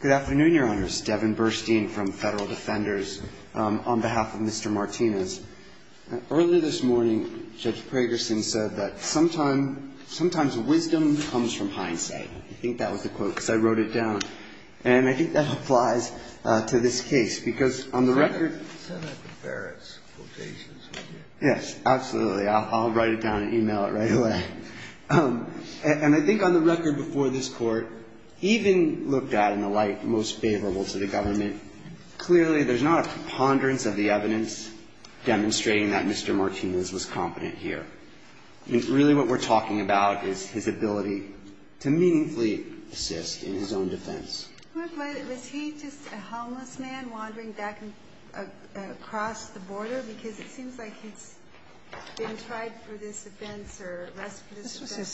Good afternoon, Your Honors. Devin Burstein from Federal Defenders. On behalf of Mr. Martinez, earlier this morning, Judge Pragerson said that sometimes, sometimes wisdom comes from hindsight. I think that was the quote, because I wrote it down. And I think that applies to this case, because on the record. Yes, absolutely. I'll write it down and email it right away. And I think on the record before this court, even looked at in a light most favorable to the government, clearly there's not a preponderance of the evidence demonstrating that Mr. Martinez was competent here. Really what we're talking about is his ability to meaningfully assist in his own defense. Was he just a homeless man wandering back and across the border? Because it seems like he's been tried for this offense or less for this offense. This was his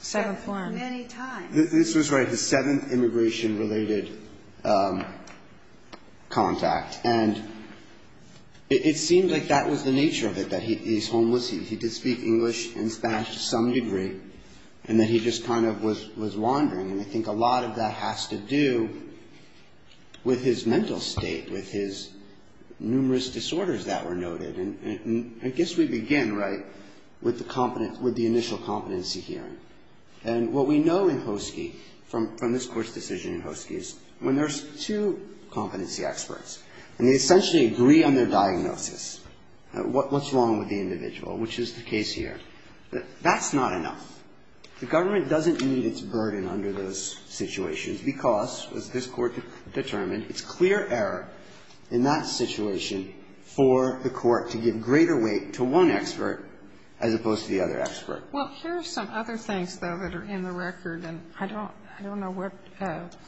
seventh one. Many times. This was, right, his seventh immigration-related contact. And it seemed like that was the nature of it, that he's homeless. He did speak English and Spanish to some degree, and that he just kind of was wandering. And I think a lot of that has to do with his mental state, with his numerous disorders that were noted. And I guess we begin, right, with the initial competency hearing. And what we know in Hoesky, from this Court's decision in Hoesky, is when there's two competency experts and they essentially agree on their diagnosis, what's wrong with the individual, which is the case here, that that's not enough. The government doesn't need its burden under those situations because, as this Court determined, it's clear error in that situation for the court to give greater weight to one expert as opposed to the other expert. Well, here are some other things, though, that are in the record, and I don't know what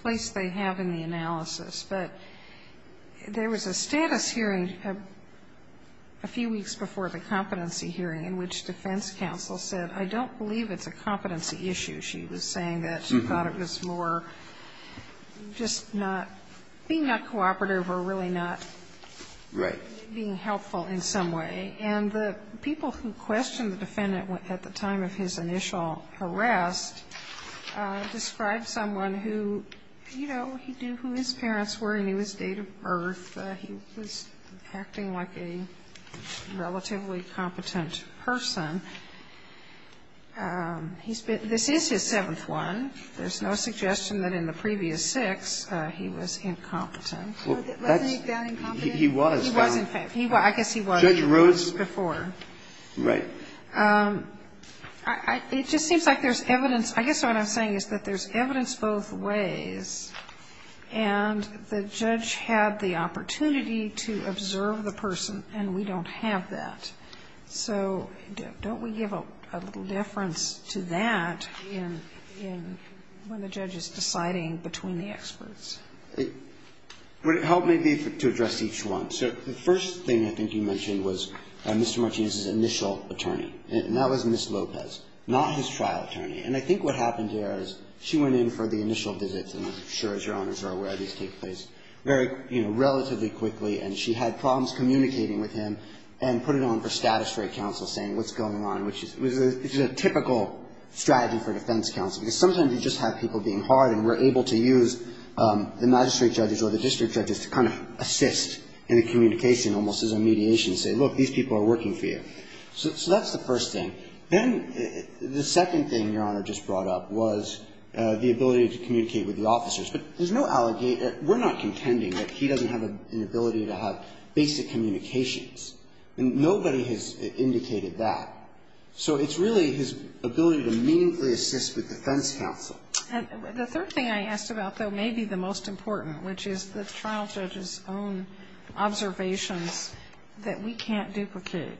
place they have in the analysis. But there was a status hearing a few weeks before the competency hearing in which defense counsel said, I don't believe it's a competency issue. She was saying that she thought it was more just not being that cooperative or really not being helpful in some way. And the people who questioned the defendant at the time of his initial arrest described someone who, you know, he knew who his parents were. He knew his date of birth. He was acting like a relatively competent person. He's been – this is his seventh one. There's no suggestion that in the previous six he was incompetent. Let's make that incompetent. He was. He was, in fact. He was. I guess he was before. Judge Rhodes? Right. It just seems like there's evidence. I guess what I'm saying is that there's evidence both ways, and the judge had the opportunity to observe the person, and we don't have that. So don't we give a little deference to that in when the judge is deciding between the experts? Would it help me to address each one? So the first thing I think you mentioned was Mr. Martinez's initial attorney, and that was Ms. Lopez, not his trial attorney. And I think what happened there is she went in for the initial visits, and I'm sure, as Your Honors are aware, these take place very, you know, relatively quickly, and she had problems communicating with him and put it on for status for a counsel saying what's going on, which is a typical strategy for a defense counsel because sometimes you just have people being hard and we're able to use the magistrate judges or the district judges to kind of assist in the communication almost as a mediation, say, look, these people are working for you. So that's the first thing. Then the second thing Your Honor just brought up was the ability to communicate with the officers. But there's no allegation, we're not contending that he doesn't have an ability to have basic communications. Nobody has indicated that. So it's really his ability to meaningfully assist with defense counsel. And the third thing I asked about, though, may be the most important, which is the trial judge's own observations that we can't duplicate.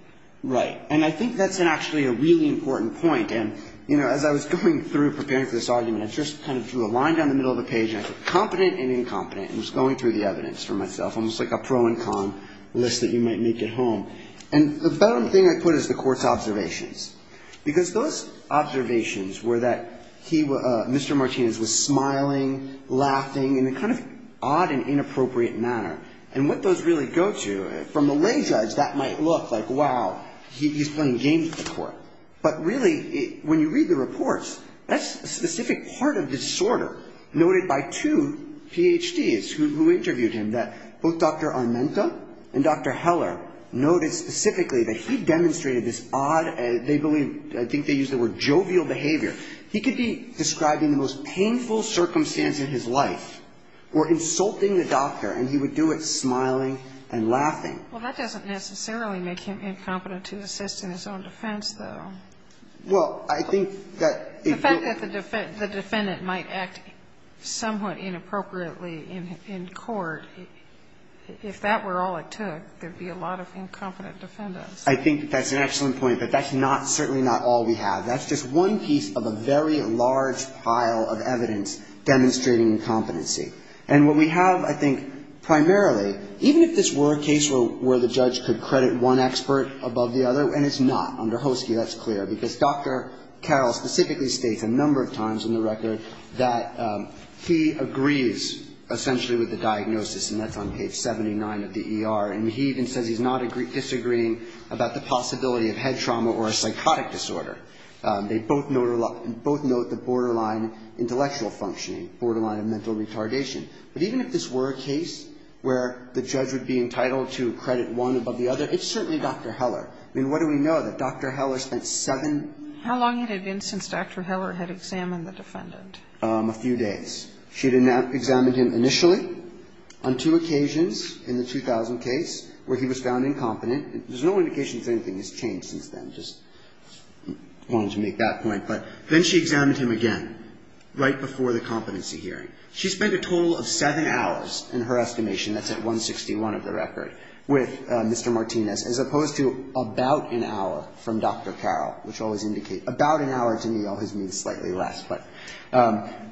Right. And I think that's actually a really important point. And, you know, as I was going through preparing for this argument, I just kind of drew a line down the middle of the page, and I said competent and incompetent, and was going through the evidence for myself, almost like a pro and con list that you might make at home. And the third thing I put is the court's observations. Because those observations were that he, Mr. Martinez, was smiling, laughing, in a kind of odd and inappropriate manner. And what those really go to, from a lay judge, that might look like, wow, he's playing games with the court. But really, when you read the reports, that's a specific part of disorder noted by two Ph.D.s who interviewed him, that both Dr. Armenta and Dr. Heller noted specifically that he demonstrated this odd, they believe, I think they used the word, jovial behavior. He could be describing the most painful circumstance in his life or insulting the doctor, and he would do it smiling and laughing. Well, that doesn't necessarily make him incompetent to assist in his own defense, though. Well, I think that it would. I think that the defendant might act somewhat inappropriately in court. If that were all it took, there would be a lot of incompetent defendants. I think that's an excellent point. But that's not, certainly not all we have. That's just one piece of a very large pile of evidence demonstrating incompetency. And what we have, I think, primarily, even if this were a case where the judge could credit one expert above the other, and it's not. Under Hoesky, that's clear. Because Dr. Carroll specifically states a number of times in the record that he agrees essentially with the diagnosis, and that's on page 79 of the ER. And he even says he's not disagreeing about the possibility of head trauma or a psychotic disorder. They both note the borderline intellectual functioning, borderline of mental retardation. But even if this were a case where the judge would be entitled to credit one above the other, it's certainly Dr. Heller. I mean, what do we know that Dr. Heller spent seven ---- How long had it been since Dr. Heller had examined the defendant? A few days. She had examined him initially on two occasions in the 2000 case where he was found incompetent. There's no indication that anything has changed since then. Just wanted to make that point. But then she examined him again right before the competency hearing. She spent a total of seven hours, in her estimation, that's at 161 of the record, with Mr. Martinez, as opposed to about an hour from Dr. Carroll, which always indicates about an hour to me always means slightly less. But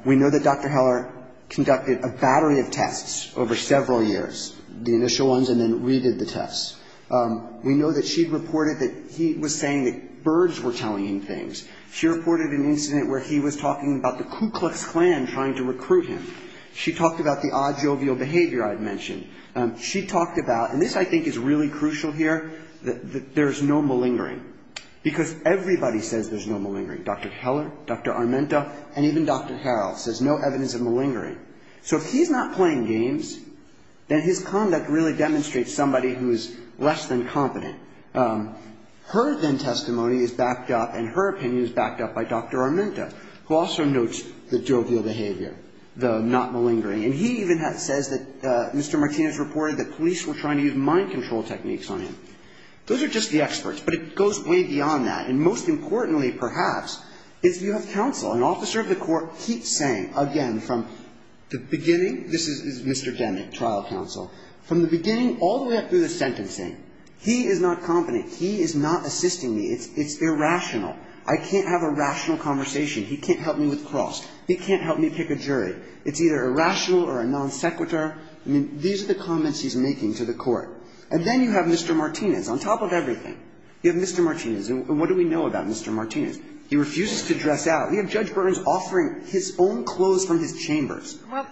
we know that Dr. Heller conducted a battery of tests over several years, the initial ones, and then redid the tests. We know that she reported that he was saying that birds were telling him things. She reported an incident where he was talking about the Ku Klux Klan trying to recruit him. She talked about the odd jovial behavior I had mentioned. She talked about, and this I think is really crucial here, that there's no malingering, because everybody says there's no malingering, Dr. Heller, Dr. Armenta, and even Dr. Carroll, says no evidence of malingering. So if he's not playing games, then his conduct really demonstrates somebody who is less than competent. Her then testimony is backed up and her opinion is backed up by Dr. Armenta, who also notes the jovial behavior, the not malingering. And he even says that Mr. Martinez reported that police were trying to use mind control techniques on him. Those are just the experts, but it goes way beyond that. And most importantly, perhaps, is you have counsel. An officer of the court keeps saying, again, from the beginning, this is Mr. Demick, trial counsel, from the beginning all the way up through the sentencing, he is not competent. He is not assisting me. It's irrational. I can't have a rational conversation. He can't help me with cross. He can't help me pick a jury. It's either irrational or a non sequitur. I mean, these are the comments he's making to the court. And then you have Mr. Martinez. On top of everything, you have Mr. Martinez. And what do we know about Mr. Martinez? He refuses to dress out. You have Judge Burns offering his own clothes from his chambers. Well,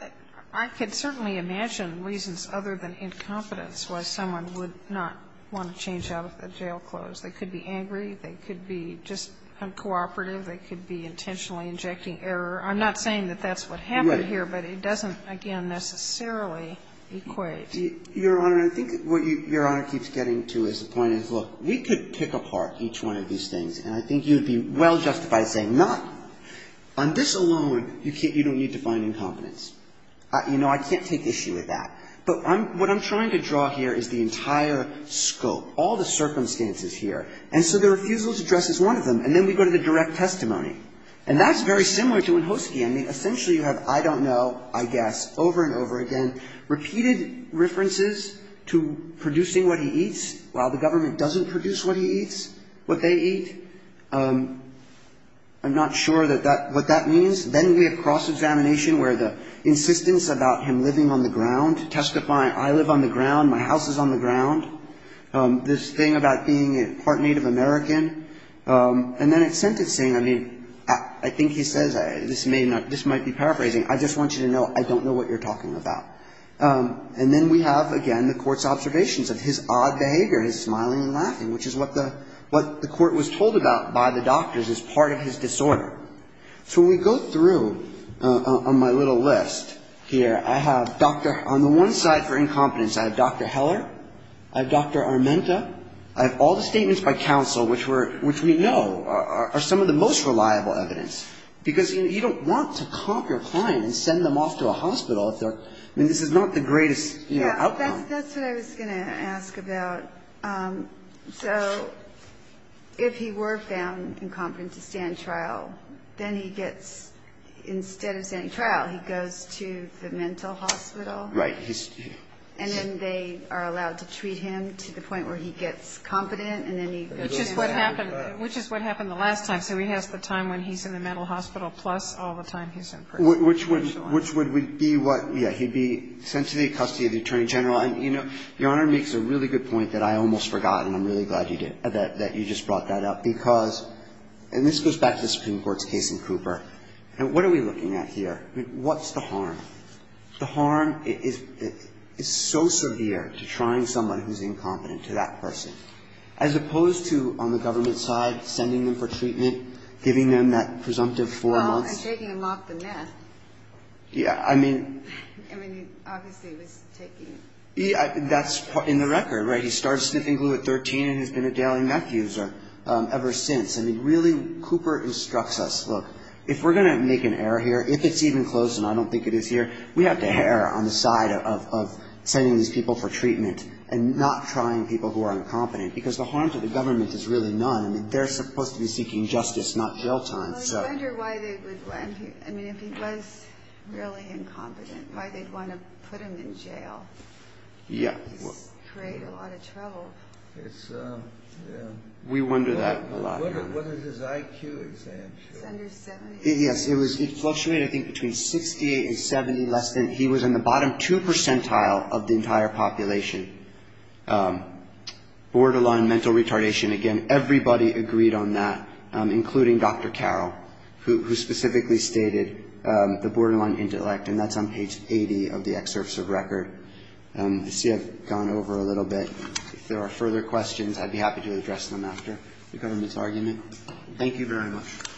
I could certainly imagine reasons other than incompetence why someone would not want to change out of the jail clothes. They could be angry. They could be just uncooperative. They could be intentionally injecting error. I'm not saying that that's what happened here, but it doesn't, again, necessarily equate. Your Honor, I think what Your Honor keeps getting to is the point is, look, we could pick apart each one of these things, and I think you would be well justified saying not on this alone you don't need to find incompetence. You know, I can't take issue with that. But what I'm trying to draw here is the entire scope, all the circumstances here. And so the refusal to dress is one of them. And then we go to the direct testimony. And that's very similar to Wachowski. I mean, essentially you have, I don't know, I guess, over and over again, repeated references to producing what he eats while the government doesn't produce what he eats, what they eat. I'm not sure what that means. Then we have cross-examination where the insistence about him living on the ground testifying, I live on the ground, my house is on the ground. This thing about being part Native American. And then at sentencing, I mean, I think he says, this might be paraphrasing, I just want you to know I don't know what you're talking about. And then we have, again, the court's observations of his odd behavior, his smiling and laughing, which is what the court was told about by the doctors as part of his disorder. So when we go through on my little list here, I have doctor on the one side for incompetence. I have Dr. Heller. I have Dr. Armenta. I have all the statements by counsel, which we know are some of the most reliable evidence. Because you don't want to comp your client and send them off to a hospital if they're, I mean, this is not the greatest outcome. Yeah, that's what I was going to ask about. So if he were found incompetent to stand trial, then he gets, instead of standing trial, he goes to the mental hospital. Right. And then they are allowed to treat him to the point where he gets competent and then he goes to the mental hospital. Which is what happened the last time. So he has the time when he's in the mental hospital plus all the time he's in prison. Which would be what? Yeah, he'd be sent to the custody of the Attorney General. And, you know, Your Honor makes a really good point that I almost forgot, and I'm really glad you did, that you just brought that up. Because, and this goes back to the Supreme Court's case in Cooper. What are we looking at here? What's the harm? The harm is so severe to trying someone who's incompetent to that person. As opposed to on the government side, sending them for treatment, giving them that presumptive four months. Well, and taking them off the meth. Yeah, I mean. I mean, obviously he was taking. That's in the record, right? He started sniffing glue at 13 and has been a daily meth user ever since. I mean, really, Cooper instructs us, look, if we're going to make an error here, if it's even close, and I don't think it is here, we have to err on the side of sending these people for treatment and not trying people who are incompetent. Because the harm to the government is really none. I mean, they're supposed to be seeking justice, not jail time. Well, I wonder why they would let him. I mean, if he was really incompetent, why they'd want to put him in jail. Yeah. It would create a lot of trouble. It's, yeah. We wonder that a lot. What is his IQ, exactly? It's under 70. Yes, it fluctuated, I think, between 68 and 70, less than. He was in the bottom two percentile of the entire population. Borderline mental retardation, again, everybody agreed on that, including Dr. Carroll, who specifically stated the borderline intellect, and that's on page 80 of the excerpts of record. I see I've gone over a little bit. If there are further questions, I'd be happy to address them after the government's argument. Thank you very much. Thank you.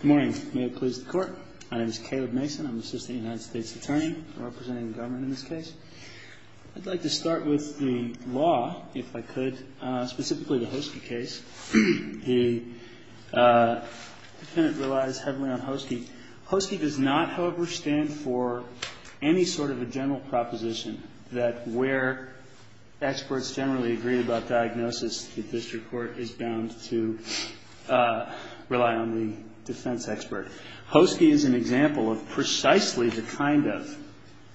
Good morning. May it please the Court. My name is Caleb Mason. I'm Assistant United States Attorney representing the government in this case. I'd like to start with the law, if I could, specifically the Hoske case. The defendant relies heavily on Hoske. Hoske does not, however, stand for any sort of a general proposition that where experts generally agree about diagnosis, the district court is bound to rely on the defense expert. Hoske is an example of precisely the kind of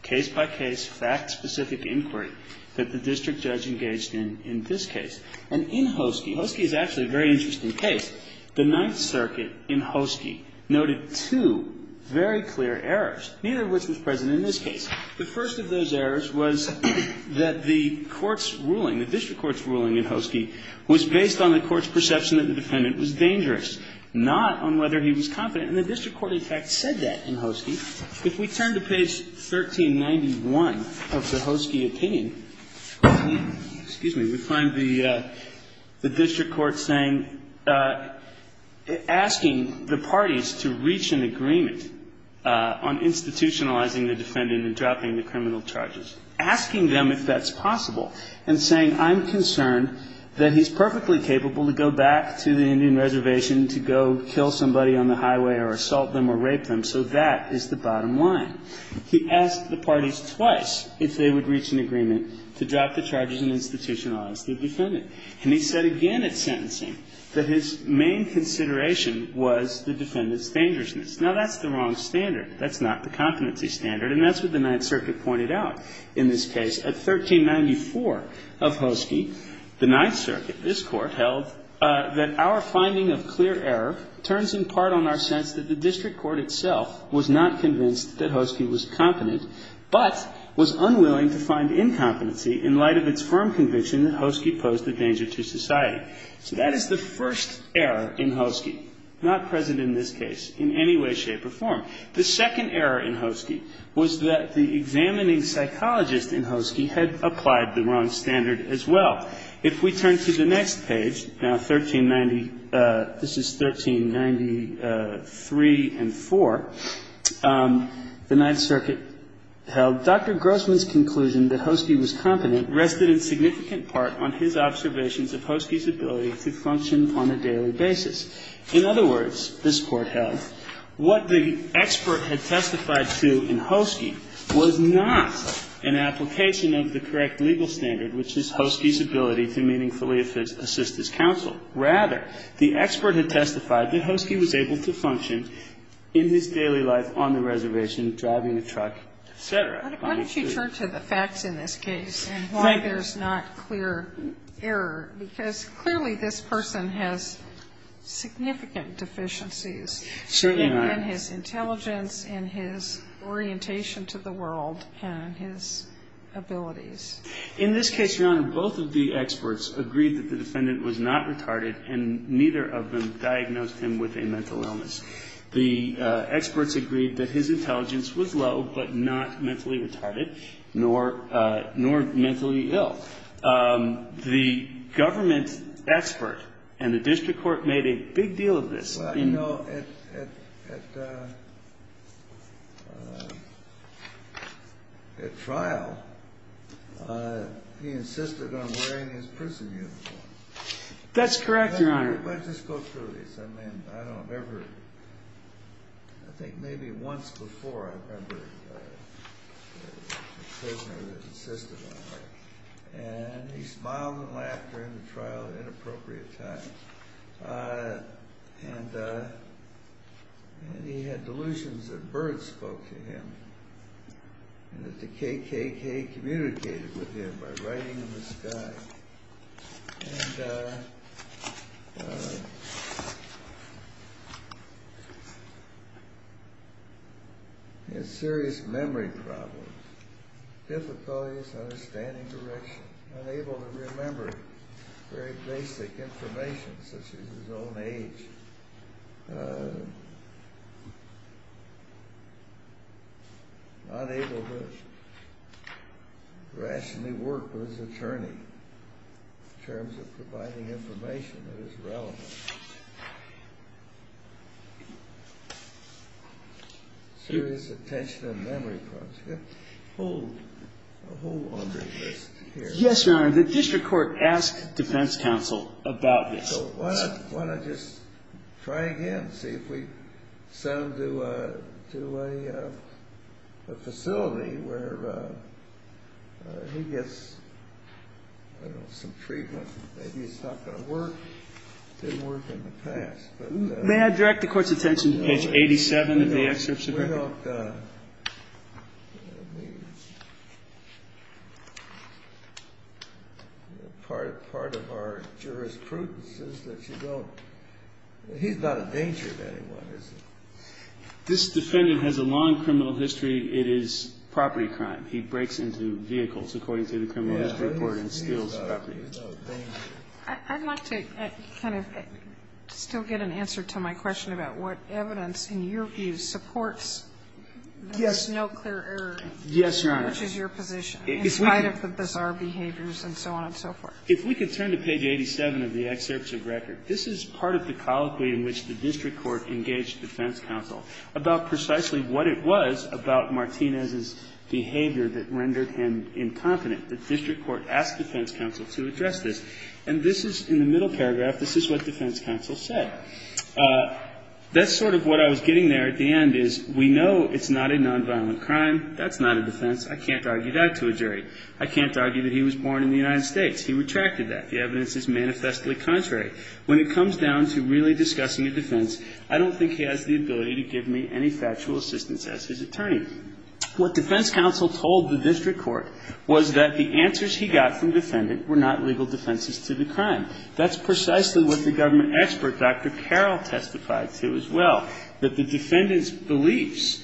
case-by-case, fact-specific inquiry that the district judge engaged in in this case. And in Hoske, Hoske is actually a very interesting case. The Ninth Circuit in Hoske noted two very clear errors, neither of which was present in this case. The first of those errors was that the court's ruling, the district court's ruling in Hoske was based on the court's perception that the defendant was dangerous, not on whether he was confident. And the district court in fact said that in Hoske. If we turn to page 1391 of the Hoske opinion, excuse me, we find the district court saying, asking the parties to reach an agreement on institutionalizing the defendant and dropping the criminal charges, asking them if that's possible and saying, I'm concerned that he's perfectly capable to go back to the Indian Reservation to go kill somebody on the highway or assault them or rape them. So that is the bottom line. He asked the parties twice if they would reach an agreement to drop the charges and institutionalize the defendant. And he said again at sentencing that his main consideration was the defendant's dangerousness. Now, that's the wrong standard. That's not the competency standard. And that's what the Ninth Circuit pointed out in this case. At 1394 of Hoske, the Ninth Circuit, this Court, held that our finding of clear error turns in part on our sense that the district court itself was not convinced that Hoske was competent, but was unwilling to find incompetency in light of its firm conviction that Hoske posed a danger to society. So that is the first error in Hoske, not present in this case in any way, shape, or form. The second error in Hoske was that the examining psychologist in Hoske had applied the wrong standard as well. If we turn to the next page, now 1390, this is 1393 and 4, the Ninth Circuit held, Dr. Grossman's conclusion that Hoske was competent rested in significant part on his observations of Hoske's ability to function on a daily basis. In other words, this Court held, what the expert had testified to in Hoske was not an application of the correct legal standard, which is Hoske's ability to meaningfully assist his counsel. Rather, the expert had testified that Hoske was able to function in his daily life on the reservation, driving a truck, et cetera. Sotomayor, why don't you turn to the facts in this case and why there's not clear error, because clearly this person has significant deficiencies in his intelligence, in his orientation to the world, and his abilities. In this case, Your Honor, both of the experts agreed that the defendant was not retarded and neither of them diagnosed him with a mental illness. The experts agreed that his intelligence was low but not mentally retarded nor mentally ill. The government expert and the district court made a big deal of this. Well, you know, at trial, he insisted on wearing his prison uniform. That's correct, Your Honor. Let's just go through this. And I don't remember, I think maybe once before I remember a prisoner that insisted on it. And he smiled and laughed during the trial at an inappropriate time. And he had delusions that birds spoke to him and that the KKK communicated with him by writing in the sky. And he had serious memory problems. Difficulties understanding directions. Unable to remember very basic information such as his own age. Not able to rationally work with his attorney in terms of providing information that is relevant. Serious attention and memory problems. A whole laundry list here. Yes, Your Honor. The district court asked defense counsel about this. So why not just try again and see if we send him to a facility where he gets some treatment. Maybe it's not going to work. It didn't work in the past. May I direct the court's attention to page 87 of the excerpt? Part of our jurisprudence is that you don't, he's not a danger to anyone, is he? This defendant has a long criminal history. It is property crime. He breaks into vehicles, according to the criminal history report, and steals property. I'd like to kind of still get an answer to my question about what evidence in your view supports that there's no clear error. Yes, Your Honor. Which is your position, in spite of the bizarre behaviors and so on and so forth. If we could turn to page 87 of the excerpt of record. This is part of the colloquy in which the district court engaged defense counsel about precisely what it was about Martinez's behavior that rendered him incompetent. The district court asked defense counsel to address this. And this is, in the middle paragraph, this is what defense counsel said. That's sort of what I was getting there at the end is we know it's not a nonviolent crime. That's not a defense. I can't argue that to a jury. I can't argue that he was born in the United States. He retracted that. The evidence is manifestly contrary. When it comes down to really discussing a defense, I don't think he has the ability to give me any factual assistance as his attorney. What defense counsel told the district court was that the answers he got from the defendant were not legal defenses to the crime. That's precisely what the government expert, Dr. Carroll, testified to as well, that the defendant's beliefs,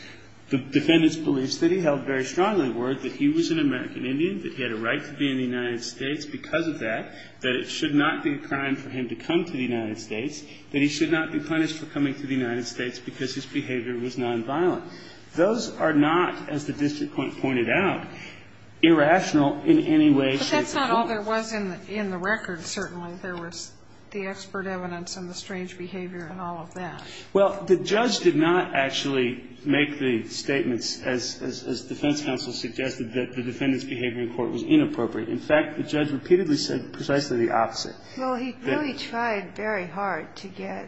the defendant's beliefs that he held very strongly were that he was an American Indian, that he had a right to be in the United States because of that, that it should not be a crime for him to come to the United States, that he should not be punished for coming to the United States because his behavior was nonviolent. Those are not, as the district court pointed out, irrational in any way, shape or form. But that's not all there was in the record, certainly. There was the expert evidence and the strange behavior and all of that. Well, the judge did not actually make the statements, as defense counsel suggested, that the defendant's behavior in court was inappropriate. In fact, the judge repeatedly said precisely the opposite. Well, he really tried very hard to get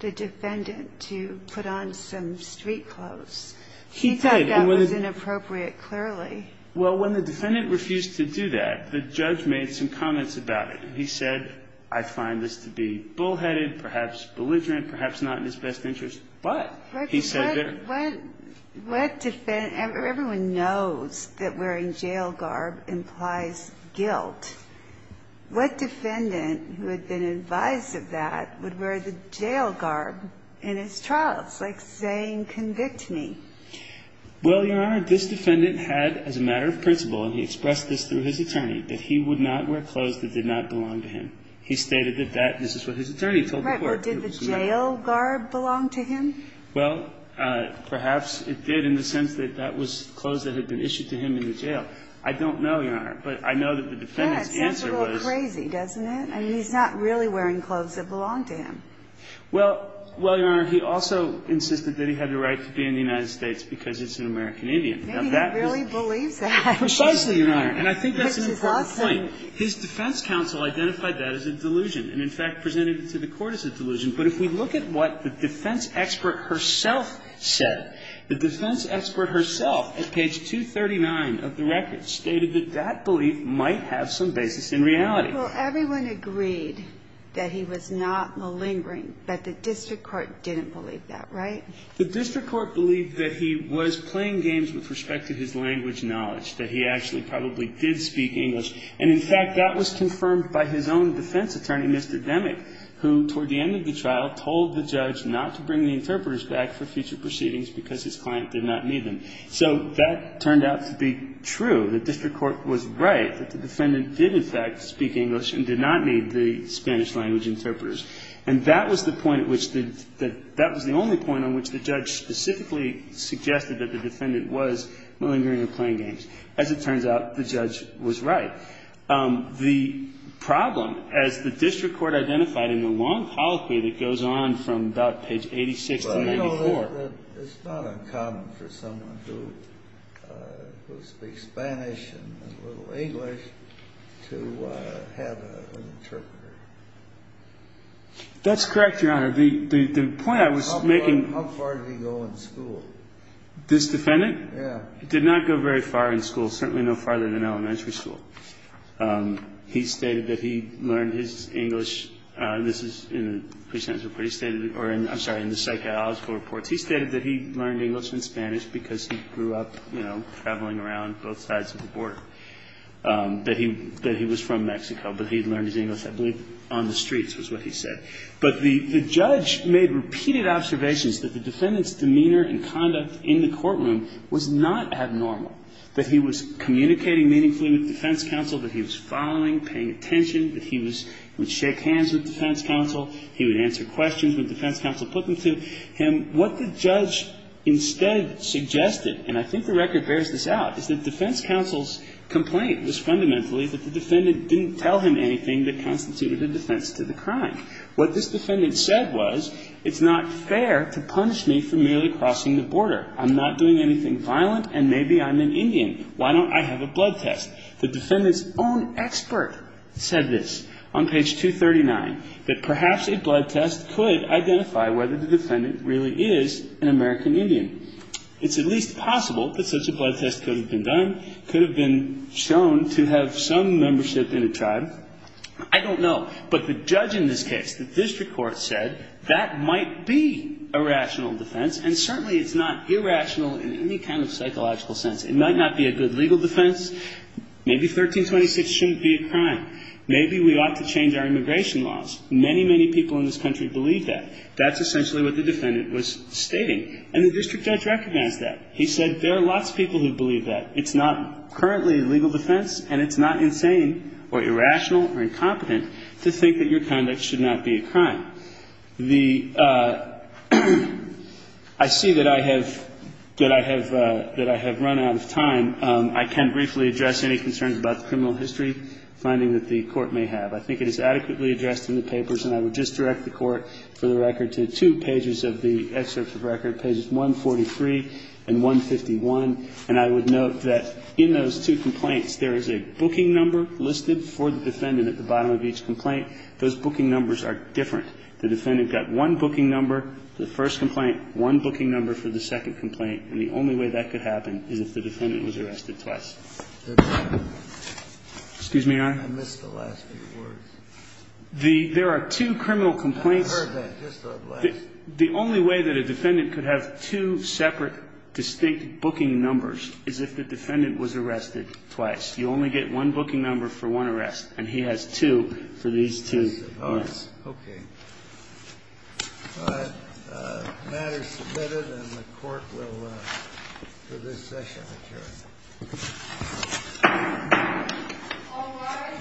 the defendant to put on some street clothes. He said that was inappropriate, clearly. Well, when the defendant refused to do that, the judge made some comments about it. He said, I find this to be bullheaded, perhaps belligerent, perhaps not in his best interest. But he said there – Everyone knows that wearing jail garb implies guilt. What defendant who had been advised of that would wear the jail garb in his trial? It's like saying, convict me. Well, Your Honor, this defendant had, as a matter of principle, and he expressed this through his attorney, that he would not wear clothes that did not belong to him. He stated that that – this is what his attorney told the court. Right. Or did the jail garb belong to him? Well, perhaps it did in the sense that that was clothes that had been issued to him in the jail. I don't know, Your Honor, but I know that the defendant's answer was – Yeah, it sounds a little crazy, doesn't it? I mean, he's not really wearing clothes that belong to him. Well, Your Honor, he also insisted that he had the right to be in the United States because it's an American Indian. Maybe he really believes that. Precisely, Your Honor. And I think that's an important point. Which is awesome. His defense counsel identified that as a delusion and, in fact, presented it to the court as a delusion. But if we look at what the defense expert herself said, the defense expert herself at page 239 of the record stated that that belief might have some basis in reality. Well, everyone agreed that he was not malingering, but the district court didn't believe that, right? The district court believed that he was playing games with respect to his language knowledge, that he actually probably did speak English. And, in fact, that was confirmed by his own defense attorney, Mr. Demick, who, before the end of the trial, told the judge not to bring the interpreters back for future proceedings because his client did not need them. So that turned out to be true. The district court was right that the defendant did, in fact, speak English and did not need the Spanish language interpreters. And that was the point at which the – that was the only point on which the judge specifically suggested that the defendant was malingering or playing games. As it turns out, the judge was right. The problem, as the district court identified in the long colloquy that goes on from about page 86 to 94. It's not uncommon for someone who speaks Spanish and a little English to have an interpreter. That's correct, Your Honor. The point I was making – How far did he go in school? This defendant? Yes. He did not go very far in school, certainly no farther than elementary school. He stated that he learned his English – this is in the pre-sentence report. He stated – or I'm sorry, in the psychological reports. He stated that he learned English and Spanish because he grew up, you know, traveling around both sides of the border. That he was from Mexico, but he had learned his English, I believe, on the streets was what he said. But the judge made repeated observations that the defendant's demeanor and conduct in the courtroom was not abnormal. That he was communicating meaningfully with defense counsel, that he was following, paying attention, that he would shake hands with defense counsel, he would answer questions when defense counsel put them to him. What the judge instead suggested, and I think the record bears this out, is that defense counsel's complaint was fundamentally that the defendant didn't tell him anything that constituted a defense to the crime. What this defendant said was, it's not fair to punish me for merely crossing the border. I'm not doing anything violent, and maybe I'm an Indian. Why don't I have a blood test? The defendant's own expert said this on page 239, that perhaps a blood test could identify whether the defendant really is an American Indian. It's at least possible that such a blood test could have been done, could have been shown to have some membership in a tribe. I don't know. But the judge in this case, the district court, said that might be a rational defense, and certainly it's not irrational in any kind of psychological sense. It might not be a good legal defense. Maybe 1326 shouldn't be a crime. Maybe we ought to change our immigration laws. Many, many people in this country believe that. That's essentially what the defendant was stating. And the district judge recognized that. He said there are lots of people who believe that. It's not currently a legal defense, and it's not insane or irrational or incompetent to think that your conduct should not be a crime. Now, the – I see that I have – that I have run out of time. I can briefly address any concerns about the criminal history finding that the Court may have. I think it is adequately addressed in the papers, and I would just direct the Court for the record to two pages of the excerpt of the record, pages 143 and 151. And I would note that in those two complaints, there is a booking number listed for the defendant at the bottom of each complaint. Those booking numbers are different. The defendant got one booking number for the first complaint, one booking number for the second complaint, and the only way that could happen is if the defendant was arrested twice. Excuse me, Your Honor. I missed the last few words. The – there are two criminal complaints. I heard that, just the last. The only way that a defendant could have two separate, distinct booking numbers is if the defendant was arrested twice. You only get one booking number for one arrest, and he has two for these two. I suppose. Yes. Okay. All right. The matter is submitted, and the Court will, for this session, adjourn. All rise for the second and the third.